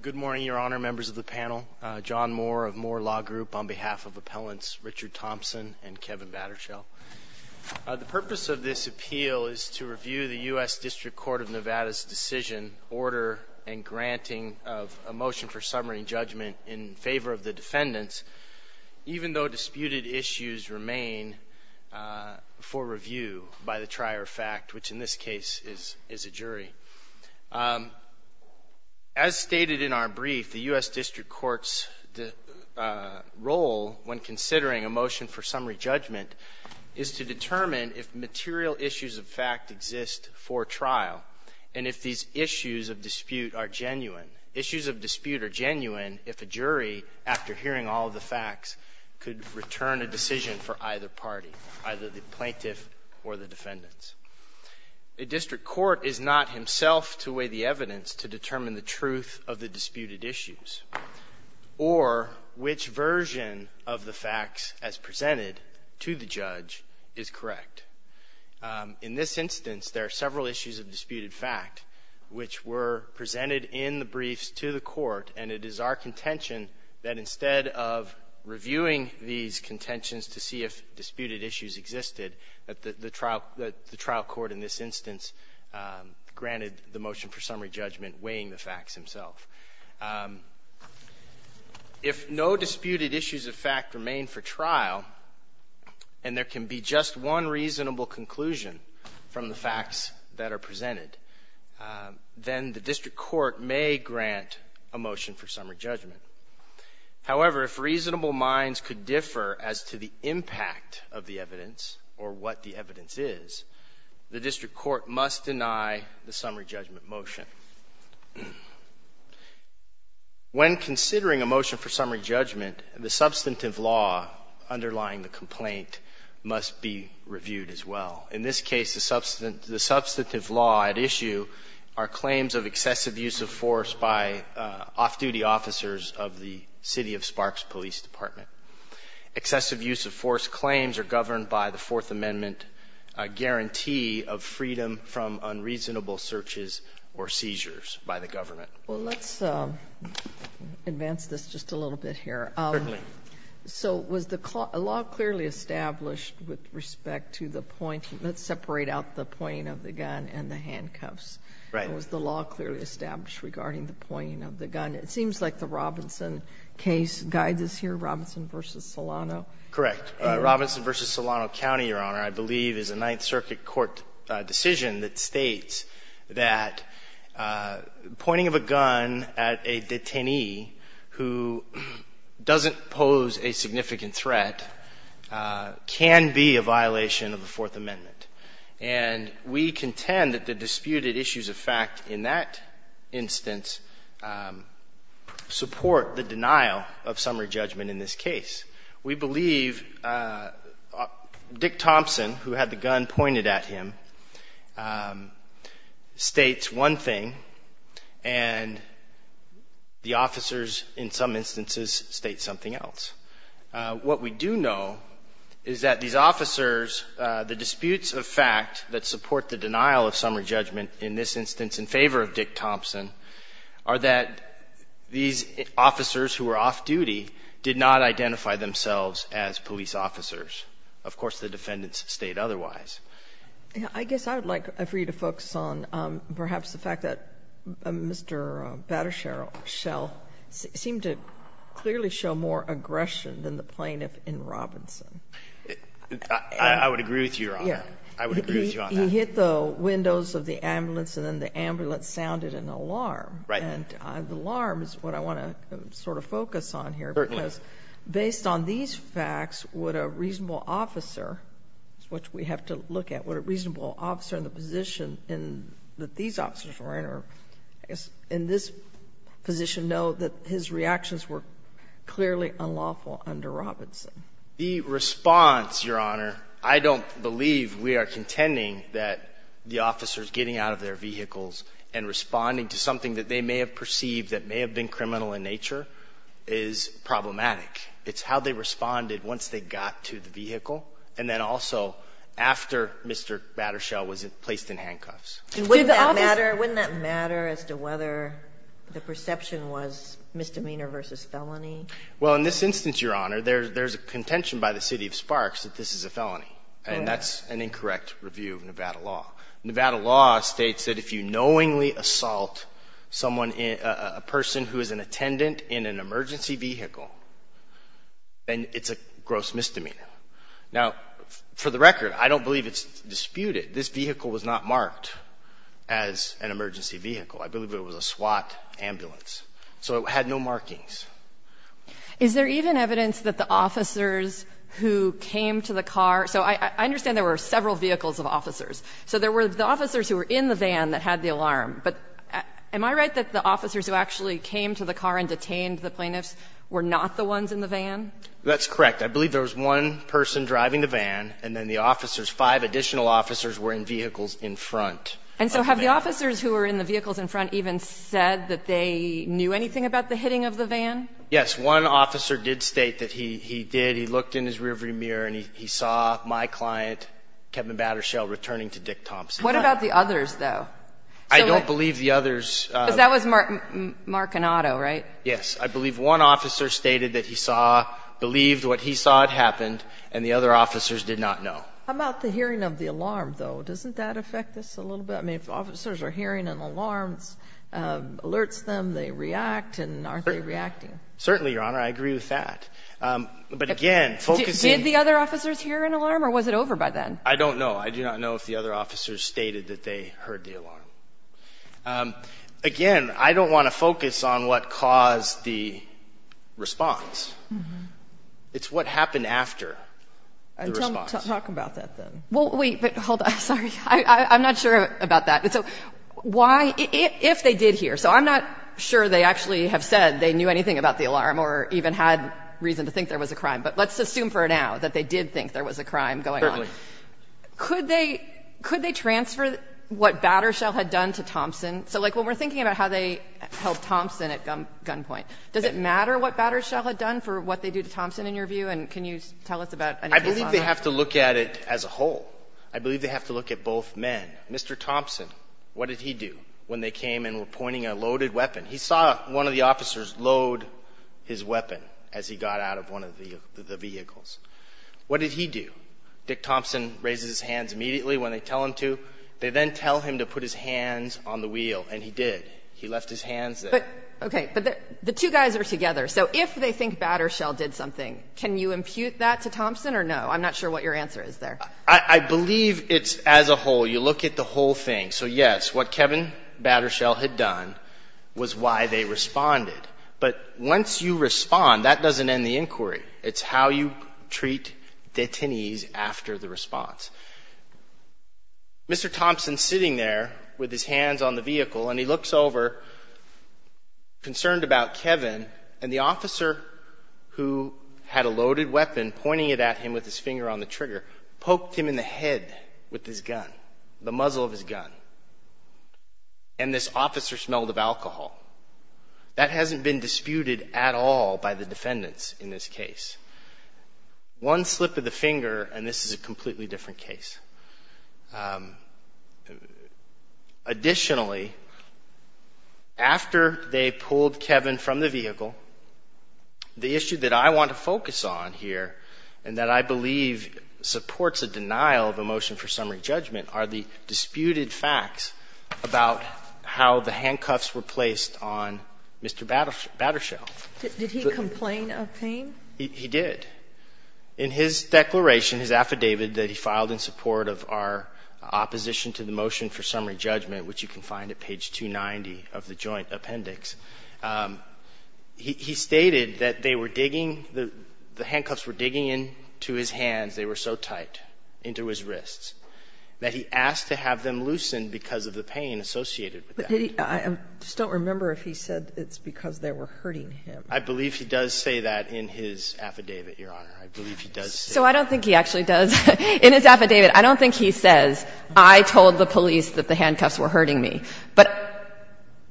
Good morning, Your Honor, members of the panel. John Moore of Moore Law Group on behalf of Appellants Richard Thompson and Kevin Battershell. The purpose of this appeal is to review the U.S. District Court of Nevada's decision, order, and granting of a motion for summary and judgment in favor of the defendants, even though disputed issues remain for review by the trier of fact, which in this case is a jury. As stated in our brief, the U.S. District Court's role when considering a motion for summary judgment is to determine if material issues of fact exist for trial and if these issues of dispute are genuine. Issues of dispute are genuine if a jury, after hearing all of the facts, could return a decision for either party, either the plaintiff or the defendants. A district court is not himself to weigh the evidence to determine the truth of the disputed issues or which version of the facts as presented to the judge is correct. In this instance, there are several issues of disputed fact which were presented in the briefs to the court, and it is our reviewing these contentions to see if disputed issues existed that the trial court in this instance granted the motion for summary judgment, weighing the facts himself. If no disputed issues of fact remain for trial and there can be just one reasonable conclusion from the facts that are reasonable minds could differ as to the impact of the evidence or what the evidence is, the district court must deny the summary judgment motion. When considering a motion for summary judgment, the substantive law underlying the complaint must be reviewed as well. In this case, the substantive law at issue are claims of excessive use of force by off-duty officers of the city of Sparks Police Department. Excessive use of force claims are governed by the Fourth Amendment guarantee of freedom from unreasonable searches or seizures by the government. Well, let's advance this just a little bit here. Certainly. So was the law clearly established with respect to the point? Let's separate out the pointing of the gun and the handcuffs. Right. Was the law clearly established regarding the pointing of the gun? It seems like the Robinson case guides us here, Robinson v. Solano. Correct. Robinson v. Solano County, Your Honor, I believe, is a Ninth Circuit court decision that states that pointing of a gun at a detainee who doesn't pose a significant threat can be a violation of the Fourth Amendment. And we contend that the disputed issues of fact in that instance support the denial of summary judgment in this case. We believe Dick Thompson, who had the gun pointed at him, states one thing and the officers, in some instances, state something else. What we do know is that these officers, the disputes of fact that support the denial of summary judgment in this instance in favor of Dick Thompson are that these officers who were off-duty did not identify themselves as police officers. Of course, the defendants state otherwise. I guess I would like for you to focus on perhaps the fact that Mr. Battershell seemed to clearly show more aggression than the plaintiff in Robinson. I would agree with you, Your Honor. I would agree with you on that. He hit the windows of the ambulance, and then the ambulance sounded an alarm. And the alarm is what I want to sort of focus on here, because based on these facts, would a reasonable officer, which we have to look at, would a reasonable officer in the position that these officers were in, or I guess in this position, know that his reactions were clearly unlawful under Robinson? The response, Your Honor, I don't believe we are contending that the officers getting out of their vehicles and responding to something that they may have perceived that may have been criminal in nature is problematic. It's how they responded once they got to the vehicle, and then also after Mr. Battershell was placed in handcuffs. And wouldn't that matter? Wouldn't that matter as to whether the perception was misdemeanor versus felony? Well, in this instance, Your Honor, there's a contention by the city of Sparks that this is a felony, and that's an incorrect review of Nevada law. Nevada law states that if you knowingly assault someone, a person who is an attendant in an emergency vehicle, then it's a gross misdemeanor. Now, for the record, I don't believe it's disputed. This vehicle was not marked as an emergency vehicle. I believe it was a SWAT ambulance. So it had no markings. Is there even evidence that the officers who came to the car – so I understand there were several vehicles of officers. So there were the officers who were in the van that had the alarm, but am I right that the officers who actually came to the car and detained the plaintiffs were not the ones in the van? That's correct. I believe there was one person driving the van, and then the officers, five additional officers, were in vehicles in front of the van. And so have the officers who were in the vehicles in front even said that they knew anything about the hitting of the van? Yes. One officer did state that he did. He looked in his rearview mirror, and he saw my client, Kevin Battershell, returning to Dick Thompson. What about the others, though? I don't believe the others – Because that was Markinado, right? Yes. I believe one officer stated that he saw – believed what he saw had happened, and the other officers did not know. How about the hearing of the alarm, though? Doesn't that affect this a little bit? I mean, if officers are hearing an alarm, it alerts them, they react, and aren't they reacting? Certainly, Your Honor, I agree with that. But again, focusing – Did the other officers hear an alarm, or was it over by then? I don't know. I do not know if the other officers stated that they heard the alarm. Again, I don't want to focus on what caused the response. It's what happened after the response. Talk about that, then. Well, wait, but hold on. Sorry. I'm not sure about that. So why – if they did hear – so I'm not sure they actually have said they knew anything about the alarm or even had reason to think there was a crime. But let's assume for now that they did think there was a crime going on. Certainly. Could they – could they transfer what Battershell had done to Thompson? So like when we're thinking about how they held Thompson at gunpoint, does it matter what Battershell had done for what they do to Thompson, in your view? And can you tell us about anything else on that? I believe they have to look at it as a whole. I believe they have to look at both men. Mr. Thompson, what did he do when they came and were pointing a loaded weapon? He saw one of the officers load his weapon as he got out of one of the vehicles. What did he do? Dick Thompson raises his hands immediately when they tell him to. They then tell him to put his hands on the wheel, and he did. He left his hands there. But, okay, but the two guys are together. So if they think Battershell did something, can you impute that to Thompson or no? I'm not sure what your answer is there. I believe it's as a whole. You look at the whole thing. So yes, what Kevin Battershell had done was why they responded. But once you respond, that doesn't end the inquiry. It's how you treat detainees after the response. Mr. Thompson's sitting there with his hands on the vehicle, and he looks over, concerned about Kevin, and the officer who had a loaded weapon pointing it at him with his finger on the trigger poked him in the head with his gun, the muzzle of his gun. And this officer smelled of alcohol. That hasn't been disputed at all by the defendants in this case. One slip of the finger, and this is a completely different case. Additionally, after they pulled Kevin from the vehicle, the issue that I want to focus on here and that I believe supports a denial of a motion for summary judgment are the disputed facts about how the handcuffs were placed on Mr. Battershell. Did he complain of pain? He did. In his declaration, his affidavit that he filed in support of our opposition to the motion for summary judgment, which you can find at page 290 of the joint appendix, he stated that they were digging, the handcuffs were digging into his hands. They were so tight into his wrists that he asked to have them loosened because of the pain associated with that. I just don't remember if he said it's because they were hurting him. I believe he does say that in his affidavit, Your Honor. I believe he does say that. So I don't think he actually does. In his affidavit, I don't think he says, I told the police that the handcuffs were hurting me. But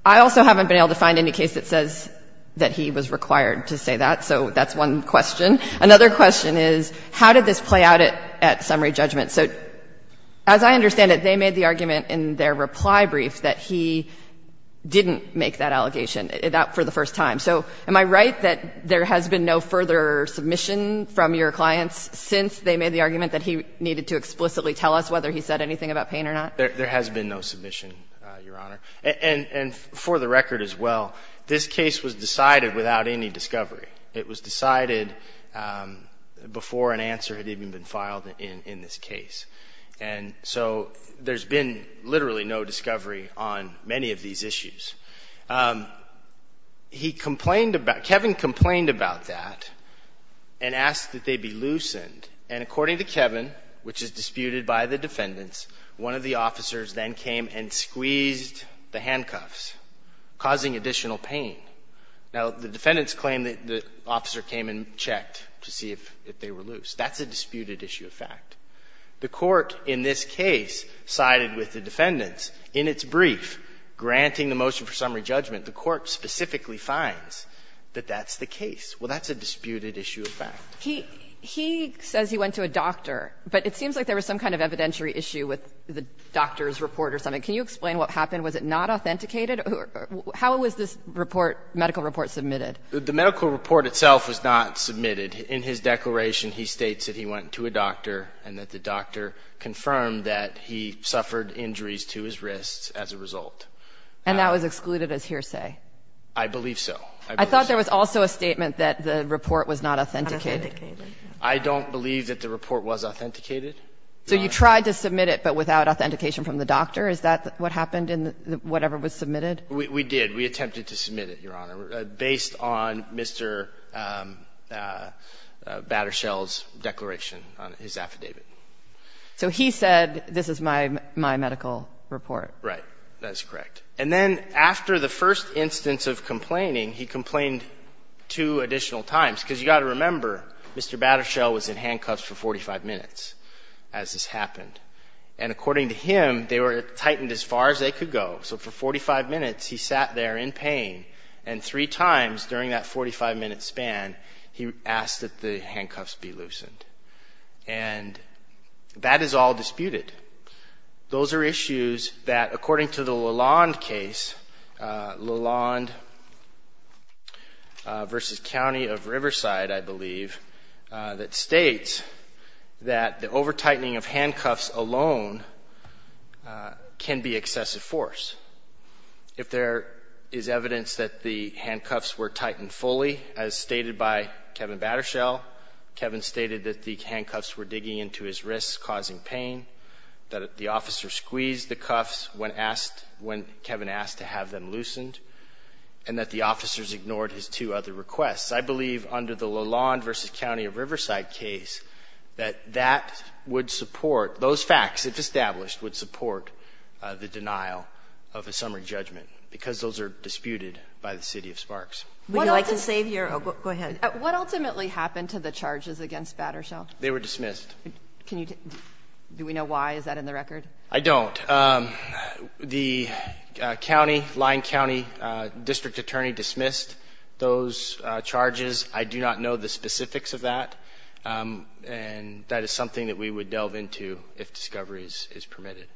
I also haven't been able to find any case that says that he was required to say that. So that's one question. Another question is, how did this play out at summary judgment? So as I understand it, they made the argument in their reply brief that he didn't make that allegation, that for the first time. So am I right that there has been no further submission from your clients since they made the argument that he needed to explicitly tell us whether he said anything about pain or not? There has been no submission, Your Honor. And for the record as well, this case was decided without any discovery. It was decided before an answer had even been filed in this case. And so there's been literally no discovery on many of these issues. He complained about – Kevin complained about that and asked that they be loosened. And according to Kevin, which is disputed by the defendants, one of the officers then came and squeezed the handcuffs, causing additional pain. Now, the defendants claim that the officer came and checked to see if they were loose. That's a disputed issue of fact. The Court in this case sided with the defendants. In its brief granting the motion for summary judgment, the Court specifically finds that that's the case. Well, that's a disputed issue of fact. He says he went to a doctor, but it seems like there was some kind of evidentiary issue with the doctor's report or something. Can you explain what happened? Was it not authenticated? How was this report, medical report, submitted? The medical report itself was not submitted. In his declaration, he states that he went to a doctor and that the doctor confirmed that he suffered injuries to his wrists as a result. And that was excluded as hearsay? I believe so. I thought there was also a statement that the report was not authenticated. I don't believe that the report was authenticated. So you tried to submit it, but without authentication from the doctor? Is that what happened in whatever was submitted? We did. We attempted to submit it, Your Honor. Based on Mr. Battershell's declaration on his affidavit. So he said, this is my medical report? Right. That is correct. And then after the first instance of complaining, he complained two additional times, because you've got to remember, Mr. Battershell was in handcuffs for 45 minutes as this happened. And according to him, they were tightened as far as they could go. So for 45 minutes, he sat there in pain. And three times during that 45-minute span, he asked that the handcuffs be loosened. And that is all disputed. Those are issues that, according to the Lalonde case, Lalonde versus County of Riverside, I believe, that states that the over-tightening of handcuffs alone can be an excessive force. If there is evidence that the handcuffs were tightened fully, as stated by Kevin Battershell, Kevin stated that the handcuffs were digging into his wrists, causing pain, that the officer squeezed the cuffs when Kevin asked to have them loosened, and that the officers ignored his two other requests. I believe, under the Lalonde versus County of Riverside case, that that would support the denial of a summary judgment, because those are disputed by the city of Sparks. Would you like to save your... Oh, go ahead. What ultimately happened to the charges against Battershell? They were dismissed. Can you... Do we know why? Is that in the record? I don't. The county, Lyon County District Attorney dismissed those charges. I do not know the specifics of that, and that is something that we would delve into if discovery is permitted.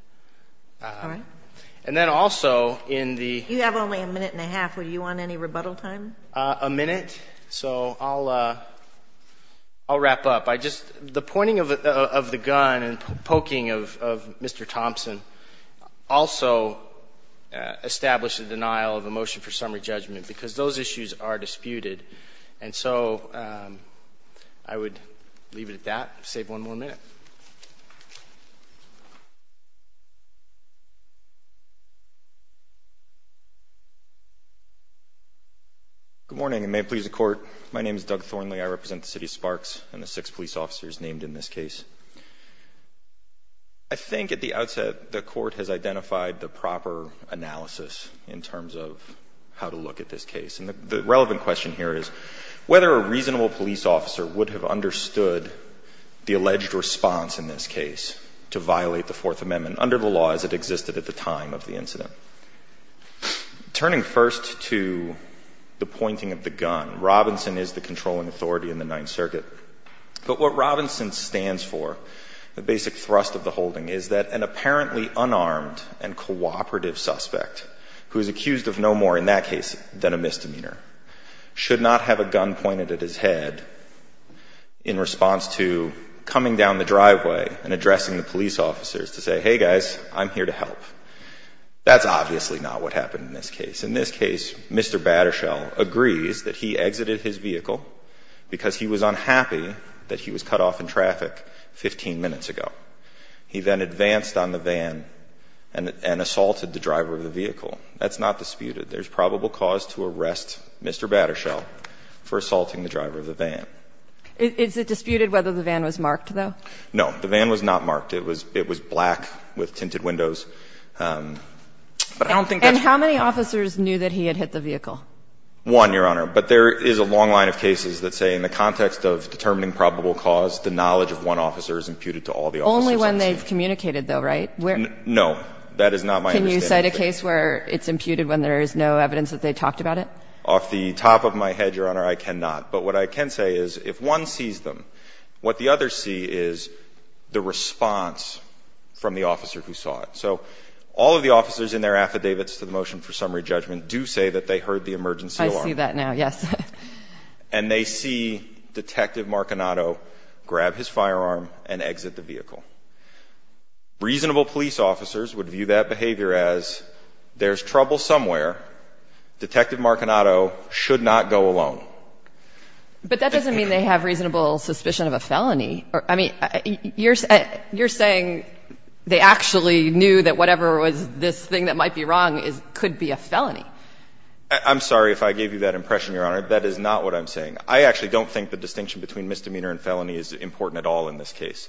And then also, in the... You have only a minute and a half, would you want any rebuttal time? A minute, so I'll wrap up. The pointing of the gun and poking of Mr. Thompson also established a denial of a motion for summary judgment, because those issues are disputed. And so, I would leave it at that, save one more minute. Good morning, and may it please the Court. My name is Doug Thornley. I represent the city of Sparks and the six police officers named in this case. I think at the outset, the Court has identified the proper analysis in terms of how to look at this case. And the relevant question here is whether a reasonable police officer would have understood the alleged response in this case to violate the Fourth Amendment under the laws that existed at the time of the incident. Turning first to the pointing of the gun, Robinson is the controlling authority in the Ninth Circuit. But what Robinson stands for, the basic thrust of the holding, is that an apparently unarmed and cooperative suspect, who is accused of no more in that case than a misdemeanor, should not have a gun pointed at his head in response to coming down the driveway and addressing the police officers to say, hey, guys, I'm here to help. That's obviously not what happened in this case. In this case, Mr. Battershell agrees that he exited his vehicle because he was unhappy that he was cut off in traffic 15 minutes ago. He then advanced on the van and assaulted the driver of the vehicle. That's not disputed. There's probable cause to arrest Mr. Battershell for assaulting the driver of the van. Is it disputed whether the van was marked, though? No. The van was not marked. It was black with tinted windows. But I don't think that's the case. And how many officers knew that he had hit the vehicle? One, Your Honor. But there is a long line of cases that say in the context of determining probable cause, the knowledge of one officer is imputed to all the officers on the scene. Only when they've communicated, though, right? No. That is not my understanding. Can you cite a case where it's imputed when there is no evidence that they talked about it? Off the top of my head, Your Honor, I cannot. But what I can say is if one sees them, what the others see is the response from the officer who saw it. So all of the officers in their affidavits to the motion for summary judgment do say that they heard the emergency alarm. I see that now, yes. And they see Detective Marchinato grab his firearm and exit the vehicle. Reasonable police officers would view that behavior as there's trouble somewhere. Detective Marchinato should not go alone. But that doesn't mean they have reasonable suspicion of a felony. I mean, you're saying they actually knew that whatever was this thing that might be wrong could be a felony. That is not what I'm saying. I actually don't think the distinction between misdemeanor and felony is important at all in this case.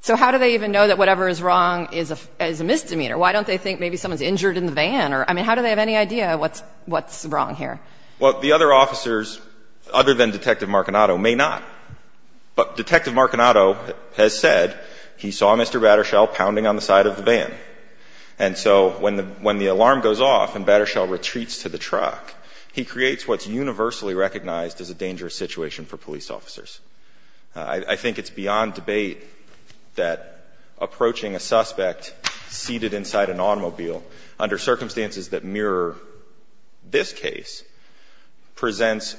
So how do they even know that whatever is wrong is a misdemeanor? Why don't they think maybe someone's injured in the van? I mean, how do they have any idea what's wrong here? Well, the other officers, other than Detective Marchinato, may not. But Detective Marchinato has said he saw Mr. Battershall pounding on the side of the van. And so when the alarm goes off and Battershall retreats to the truck, he creates what's universally recognized as a dangerous situation for police officers. I think it's beyond debate that approaching a suspect seated inside an automobile under circumstances that mirror this case presents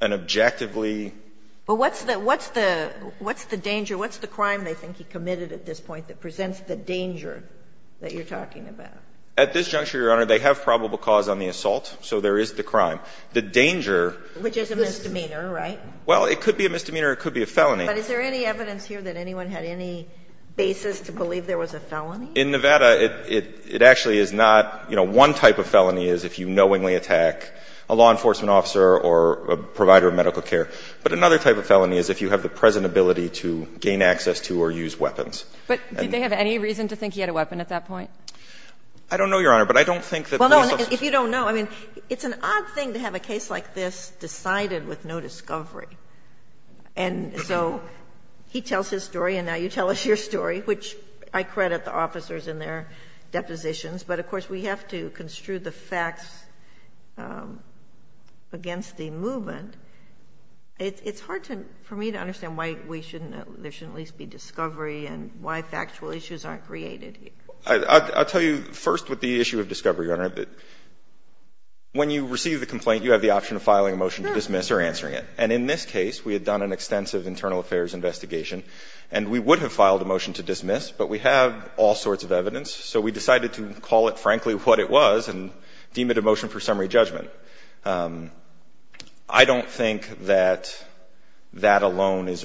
an objectively ---- But what's the danger, what's the crime they think he committed at this point that presents the danger that you're talking about? At this juncture, Your Honor, they have probable cause on the assault, so there is the crime. The danger ---- Which is a misdemeanor, right? Well, it could be a misdemeanor, it could be a felony. But is there any evidence here that anyone had any basis to believe there was a felony? In Nevada, it actually is not. You know, one type of felony is if you knowingly attack a law enforcement officer or a provider of medical care. But another type of felony is if you have the present ability to gain access to or use weapons. But did they have any reason to think he had a weapon at that point? I don't know, Your Honor, but I don't think that police officers ---- Well, no, if you don't know, I mean, it's an odd thing to have a case like this decided with no discovery. And so he tells his story and now you tell us your story, which I credit the officers in their depositions. But of course, we have to construe the facts against the movement. It's hard to ---- for me to understand why we shouldn't ---- there shouldn't at least be discovery and why factual issues aren't created here. I'll tell you first with the issue of discovery, Your Honor, that when you receive the complaint, you have the option of filing a motion to dismiss or answering it. And in this case, we had done an extensive internal affairs investigation and we would have filed a motion to dismiss, but we have all sorts of evidence. So we decided to call it frankly what it was and deem it a motion for summary judgment. I don't think that that alone is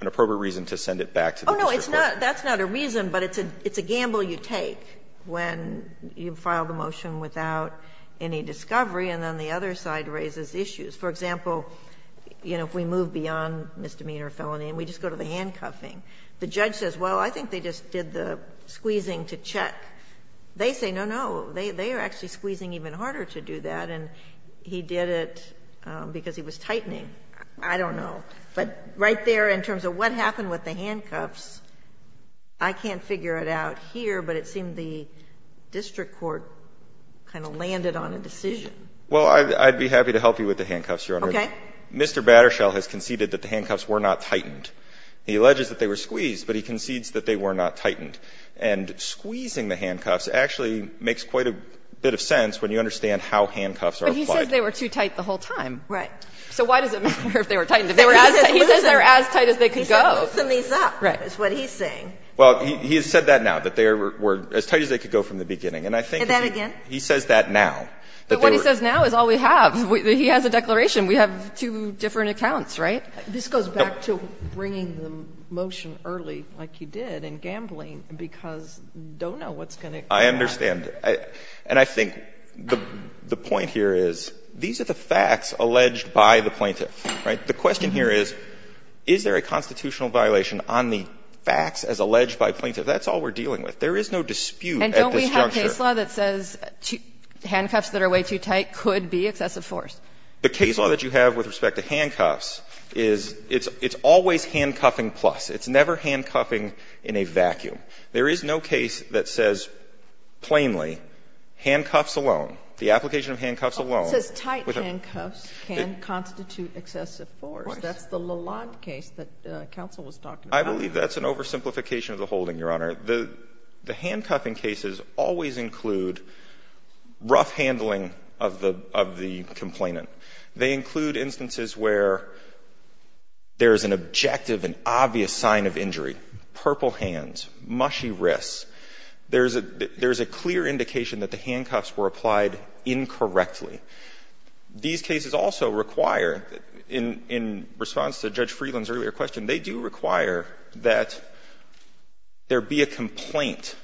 an appropriate reason to send it back to the district court. Oh, no, it's not. That's not a reason, but it's a gamble you take when you file the motion without any discovery and then the other side raises issues. For example, you know, if we move beyond misdemeanor or felony and we just go to the handcuffing, the judge says, well, I think they just did the squeezing to check. They say, no, no, they are actually squeezing even harder to do that, and he did it because he was tightening. I don't know. But right there in terms of what happened with the handcuffs, I can't figure it out here, but it seemed the district court kind of landed on a decision. Well, I'd be happy to help you with the handcuffs, Your Honor. Okay. Mr. Battershall has conceded that the handcuffs were not tightened. He alleges that they were squeezed, but he concedes that they were not tightened. And squeezing the handcuffs actually makes quite a bit of sense when you understand how handcuffs are applied. But he says they were too tight the whole time. Right. So why does it matter if they were tightened? They were as tight. He says they were as tight as they could go. He said loosen these up is what he's saying. Well, he has said that now, that they were as tight as they could go from the beginning. And I think he says that now. But what he says now is all we have. He has a declaration. We have two different accounts, right? This goes back to bringing the motion early like he did in gambling. Because you don't know what's going to come out. I understand. And I think the point here is these are the facts alleged by the plaintiff. Right? The question here is, is there a constitutional violation on the facts as alleged by plaintiff? That's all we're dealing with. There is no dispute at this juncture. And don't we have case law that says handcuffs that are way too tight could be excessive force? The case law that you have with respect to handcuffs is it's always handcuffing plus. It's never handcuffing in a vacuum. There is no case that says plainly handcuffs alone. The application of handcuffs alone. It says tight handcuffs can constitute excessive force. That's the Lalonde case that counsel was talking about. I believe that's an oversimplification of the holding, Your Honor. The handcuffing cases always include rough handling of the complainant. Purple hands. Mushy wrists. There's a clear indication that the handcuffs were applied incorrectly. These cases also require, in response to Judge Freeland's earlier question, they do require that there be a complaint.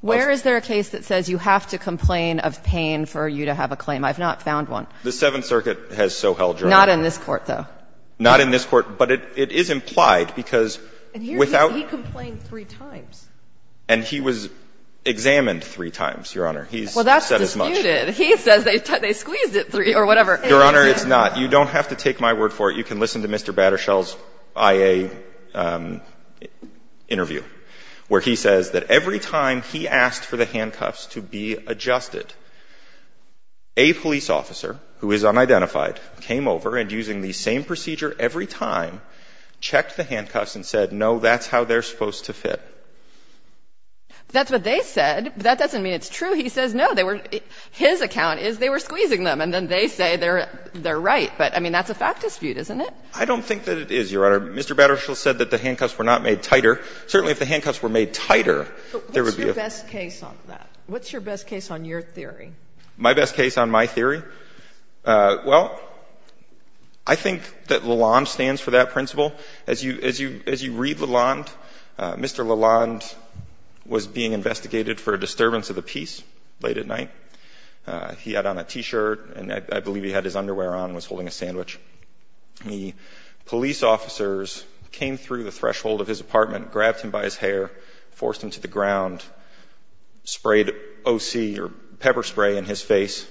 Where is there a case that says you have to complain of pain for you to have a claim? I've not found one. The Seventh Circuit has so held, Your Honor. Not in this Court, though. Not in this Court. But it is implied, because without And here he complained three times. And he was examined three times, Your Honor. He's said as much. Well, that's disputed. He says they squeezed it three or whatever. Your Honor, it's not. You don't have to take my word for it. You can listen to Mr. Battershall's IA interview, where he says that every time he asked for the handcuffs to be adjusted, a police officer, who is unidentified, came over and, using the same procedure every time, checked the handcuffs and said, no, that's how they're supposed to fit. That's what they said. That doesn't mean it's true. He says, no, they were — his account is they were squeezing them, and then they say they're right. But, I mean, that's a fact dispute, isn't it? I don't think that it is, Your Honor. Mr. Battershall said that the handcuffs were not made tighter. Certainly, if the handcuffs were made tighter, there would be a — But what's your best case on that? What's your best case on your theory? My best case on my theory? Well, I think that Lalonde stands for that principle. As you read Lalonde, Mr. Lalonde was being investigated for a disturbance of the peace late at night. He had on a T-shirt, and I believe he had his underwear on and was holding a sandwich. The police officers came through the threshold of his apartment, grabbed him by his hair, forced him to the ground, sprayed OC, or pepper spray, in his face,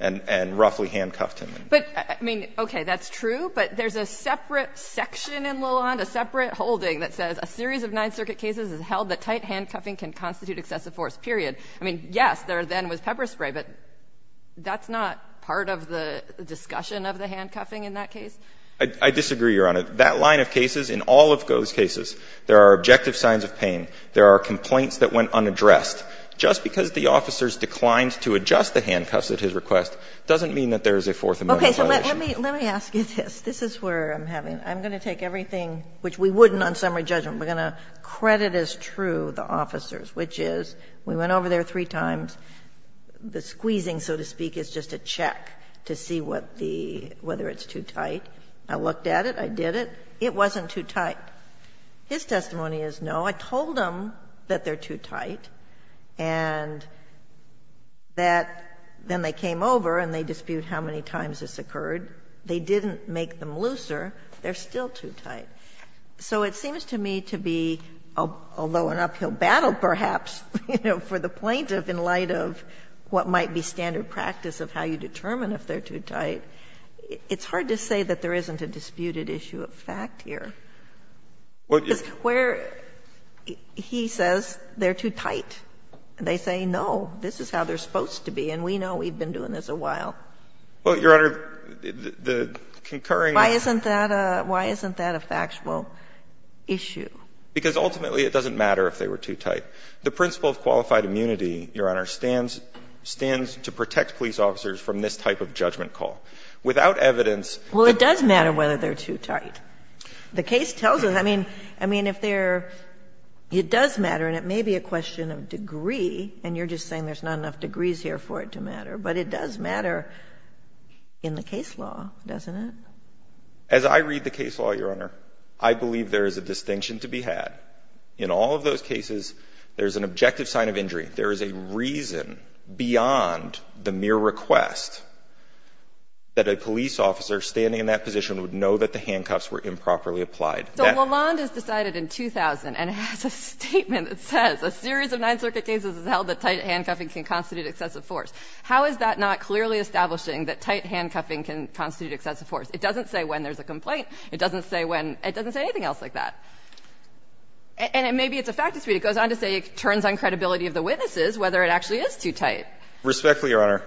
and roughly handcuffed him. But, I mean, okay, that's true, but there's a separate section in Lalonde, a separate holding, that says a series of Ninth Circuit cases has held that tight handcuffing can constitute excessive force, period. I mean, yes, there then was pepper spray, but that's not part of the discussion of the handcuffing in that case? I disagree, Your Honor. That line of cases, in all of Go's cases, there are objective signs of pain. There are complaints that went unaddressed. Just because the officers declined to adjust the handcuffs at his request doesn't mean that there is a Fourth Amendment violation. Sotomayor, this is where I'm having, I'm going to take everything, which we wouldn't on summary judgment, we're going to credit as true the officers, which is, we went over there three times. The squeezing, so to speak, is just a check to see what the, whether it's too tight. I looked at it, I did it, it wasn't too tight. His testimony is, no, I told them that they're too tight. And that then they came over and they dispute how many times this occurred. They didn't make them looser. They're still too tight. So it seems to me to be, although an uphill battle perhaps, you know, for the plaintiff in light of what might be standard practice of how you determine if they're too tight, it's hard to say that there isn't a disputed issue of fact here. Because where he says they're too tight, they say, no, this is how they're supposed to be, and we know we've been doing this a while. Well, Your Honor, the concurring question is why isn't that a factual issue? Because ultimately it doesn't matter if they were too tight. The principle of qualified immunity, Your Honor, stands to protect police officers from this type of judgment call. Without evidence that they're too tight, it doesn't matter whether they're too tight. The case tells us, I mean, I mean, if they're — it does matter, and it may be a question of degree, and you're just saying there's not enough degrees here for it to matter, but it does matter in the case law, doesn't it? As I read the case law, Your Honor, I believe there is a distinction to be had. In all of those cases, there's an objective sign of injury. There is a reason beyond the mere request that a police officer standing in that position would know that the handcuffs were improperly applied. So Lawland has decided in 2000 and has a statement that says a series of Ninth Circuit cases has held that tight handcuffing can constitute excessive force. How is that not clearly establishing that tight handcuffing can constitute excessive force? It doesn't say when there's a complaint. It doesn't say when — it doesn't say anything else like that. And it may be it's a fact to speak. It goes on to say it turns on credibility of the witnesses whether it actually is too tight. Respectfully, Your Honor,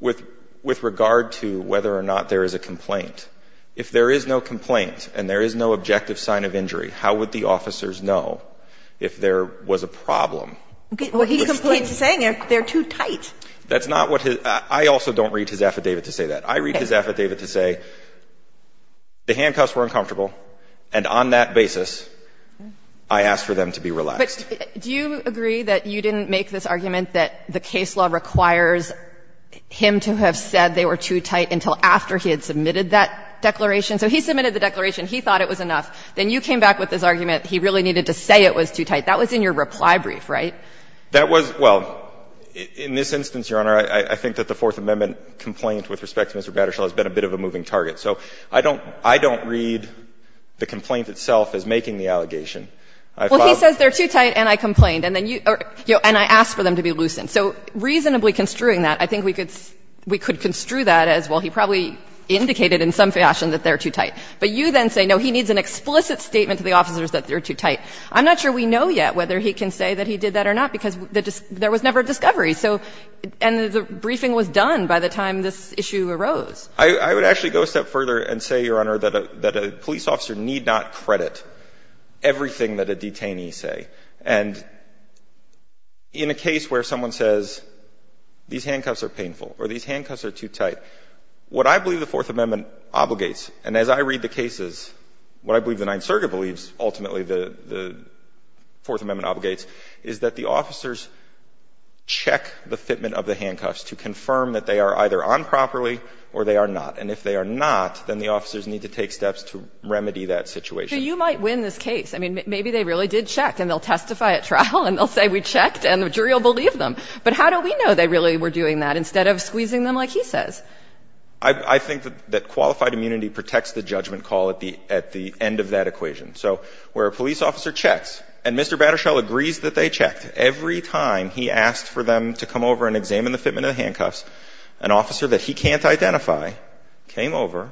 with regard to whether or not there is a complaint, if there is no complaint and there is no objective sign of injury, how would the officers know if there was a problem? He's saying they're too tight. That's not what his — I also don't read his affidavit to say that. I read his affidavit to say the handcuffs were uncomfortable, and on that basis, I asked for them to be relaxed. But do you agree that you didn't make this argument that the case law requires him to have said they were too tight until after he had submitted that declaration? So he submitted the declaration. He thought it was enough. Then you came back with this argument he really needed to say it was too tight. That was in your reply brief, right? That was — well, in this instance, Your Honor, I think that the Fourth Amendment complaint with respect to Mr. Battershall has been a bit of a moving target. So I don't — I don't read the complaint itself as making the allegation. I follow — Well, he says they're too tight and I complained, and then you — and I asked for them to be loosened. So reasonably construing that, I think we could — we could construe that as, well, he probably indicated in some fashion that they're too tight. But you then say, no, he needs an explicit statement to the officers that they're too tight. I'm not sure we know yet whether he can say that he did that or not, because there was never a discovery. So — and the briefing was done by the time this issue arose. I would actually go a step further and say, Your Honor, that a — that a police officer need not credit everything that a detainee say. And in a case where someone says, these handcuffs are painful or these handcuffs are too tight, what I believe the Fourth Amendment obligates, and as I read the cases, what I believe the Ninth Circuit believes ultimately the — the Fourth Amendment obligates, is that the officers check the fitment of the handcuffs to confirm that they are either on properly or they are not. And if they are not, then the officers need to take steps to remedy that situation. So you might win this case. I mean, maybe they really did check, and they'll testify at trial, and they'll say we checked, and the jury will believe them. But how do we know they really were doing that instead of squeezing them like he says? I think that qualified immunity protects the judgment call at the — at the end of that equation. So where a police officer checks, and Mr. Battershell agrees that they checked, every time he asked for them to come over and examine the fitment of the handcuffs, an officer that he can't identify came over,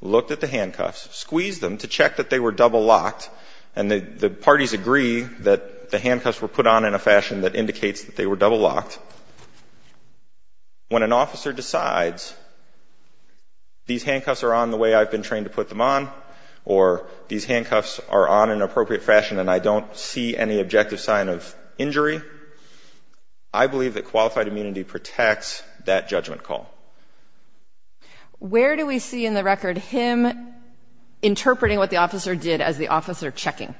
looked at the handcuffs, squeezed them to check that they were double-locked, and the parties agree that the handcuffs were put on in a fashion that indicates that they were double-locked, when an officer decides these handcuffs are on the way I've been trained to put them on, or these handcuffs are on in an appropriate fashion and I don't see any objective sign of injury, I believe that qualified immunity protects that judgment call. Where do we see in the record him interpreting what the officer did as the officer checking?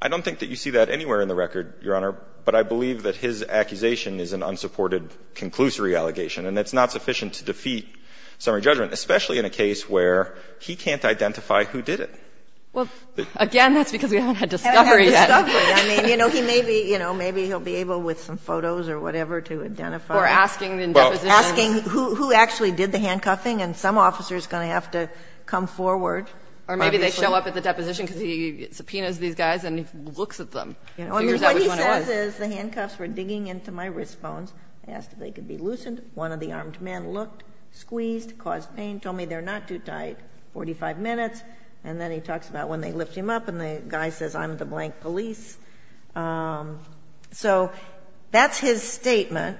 I don't think that you see that anywhere in the record, Your Honor, but I believe that his accusation is an unsupported conclusory allegation, and it's not sufficient to defeat summary judgment, especially in a case where he can't identify who did it. Well, again, that's because we haven't had discovery yet. I mean, you know, he may be, you know, maybe he'll be able with some photos or whatever to identify. Or asking in depositions. Asking who actually did the handcuffing, and some officer's going to have to come forward. Or maybe they show up at the deposition because he subpoenas these guys and he looks at them. I mean, what he says is, the handcuffs were digging into my wrist bones, I asked if they could be loosened, one of the armed men looked, squeezed, caused pain, told me they're not too tight, 45 minutes, and then he talks about when they lift him up and the guy says, I'm the blank police. So that's his statement,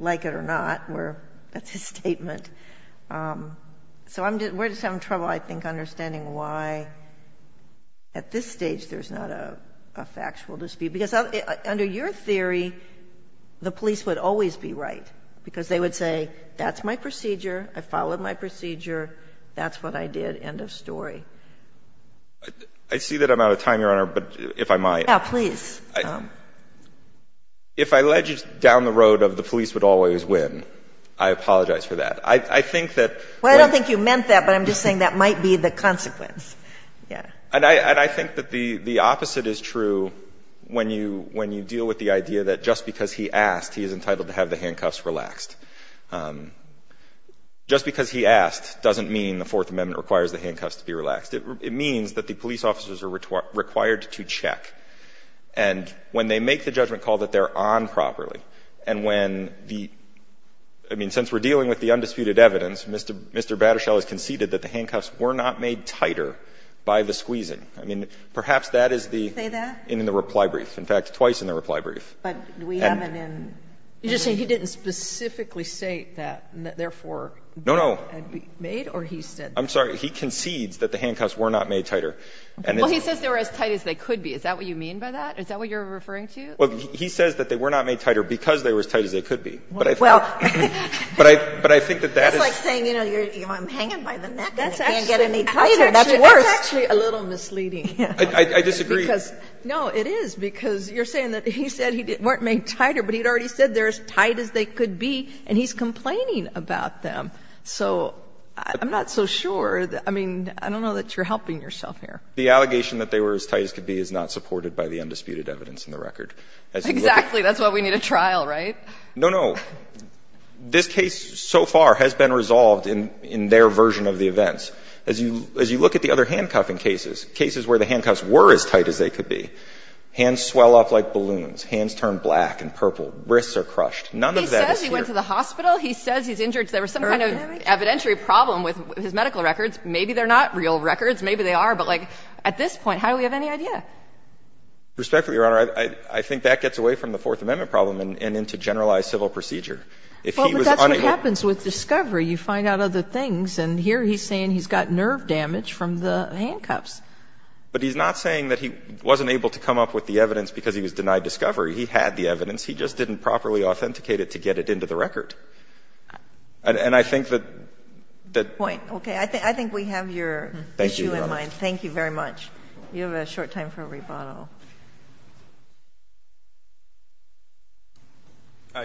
like it or not, that's his statement. So we're just having trouble, I think, understanding why at this stage there's not a factual dispute. Because under your theory, the police would always be right, because they would say, that's my procedure, I followed my procedure, that's what I did, end of story. I see that I'm out of time, Your Honor, but if I might. Yeah, please. If I led you down the road of the police would always win, I apologize for that. I think that. Well, I don't think you meant that, but I'm just saying that might be the consequence. Yeah. And I think that the opposite is true when you deal with the idea that just because he asked, he is entitled to have the handcuffs relaxed. Just because he asked doesn't mean the Fourth Amendment requires the handcuffs to be relaxed. It means that the police officers are required to check. And when they make the judgment call that they're on properly, and when the – I mean, since we're dealing with the undisputed evidence, Mr. Battershall has conceded that the handcuffs were not made tighter by the squeezing. I mean, perhaps that is the – Did he say that? In the reply brief. In fact, twice in the reply brief. But we haven't in – You're just saying he didn't specifically say that, and therefore, they had to be made or he said that? No, no. I'm sorry. He concedes that the handcuffs were not made tighter. Well, he says they were as tight as they could be. Is that what you mean by that? Is that what you're referring to? Well, he says that they were not made tighter because they were as tight as they could be. But I think that that is – Well, it's like saying, you know, I'm hanging by the neck and I can't get any tighter. That's worse. That's actually a little misleading. I disagree. Because, no, it is, because you're saying that he said they weren't made tighter, but he'd already said they were as tight as they could be, and he's complaining about them. So I'm not so sure. I mean, I don't know that you're helping yourself here. The allegation that they were as tight as could be is not supported by the undisputed evidence in the record. Exactly. That's why we need a trial, right? No, no. This case so far has been resolved in their version of the events. As you look at the other handcuffing cases, cases where the handcuffs were as tight as they could be, hands swell up like balloons, hands turn black and purple, wrists are crushed. None of that is here. He says he went to the hospital. He says he's injured. There was some kind of evidentiary problem with his medical records. Maybe they're not real records. Maybe they are. But, like, at this point, how do we have any idea? Respectfully, Your Honor, I think that gets away from the Fourth Amendment problem and into generalized civil procedure. If he was on a ---- Well, but that's what happens with discovery. You find out other things. And here he's saying he's got nerve damage from the handcuffs. But he's not saying that he wasn't able to come up with the evidence because he was denied discovery. He had the evidence. He just didn't properly authenticate it to get it into the record. And I think that the ---- Point. Okay. I think we have your issue in mind. Thank you very much. You have a short time for a rebuttal.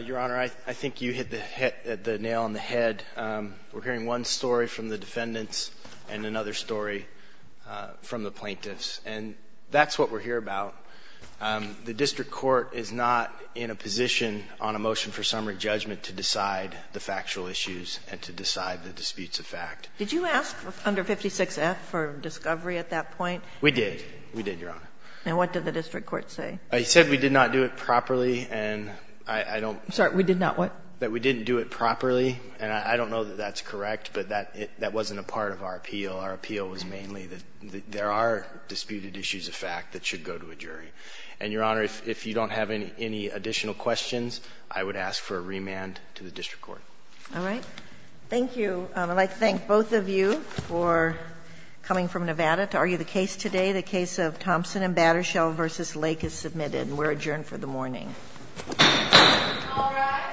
Your Honor, I think you hit the nail on the head. We're hearing one story from the defendants and another story from the plaintiffs. And that's what we're here about. The district court is not in a position on a motion for summary judgment to decide the factual issues and to decide the disputes of fact. Did you ask under 56F for discovery at that point? We did. We did, Your Honor. And what did the district court say? He said we did not do it properly. And I don't ---- I'm sorry. We did not what? That we didn't do it properly. And I don't know that that's correct, but that wasn't a part of our appeal. Our appeal was mainly that there are disputed issues of fact that should go to a jury. And, Your Honor, if you don't have any additional questions, I would ask for a remand to the district court. All right. Thank you. I'd like to thank both of you for coming from Nevada to argue the case today. The case of Thompson and Battershell v. Lake is submitted. And we're adjourned for the morning. All rise. The court for this session stands adjourned.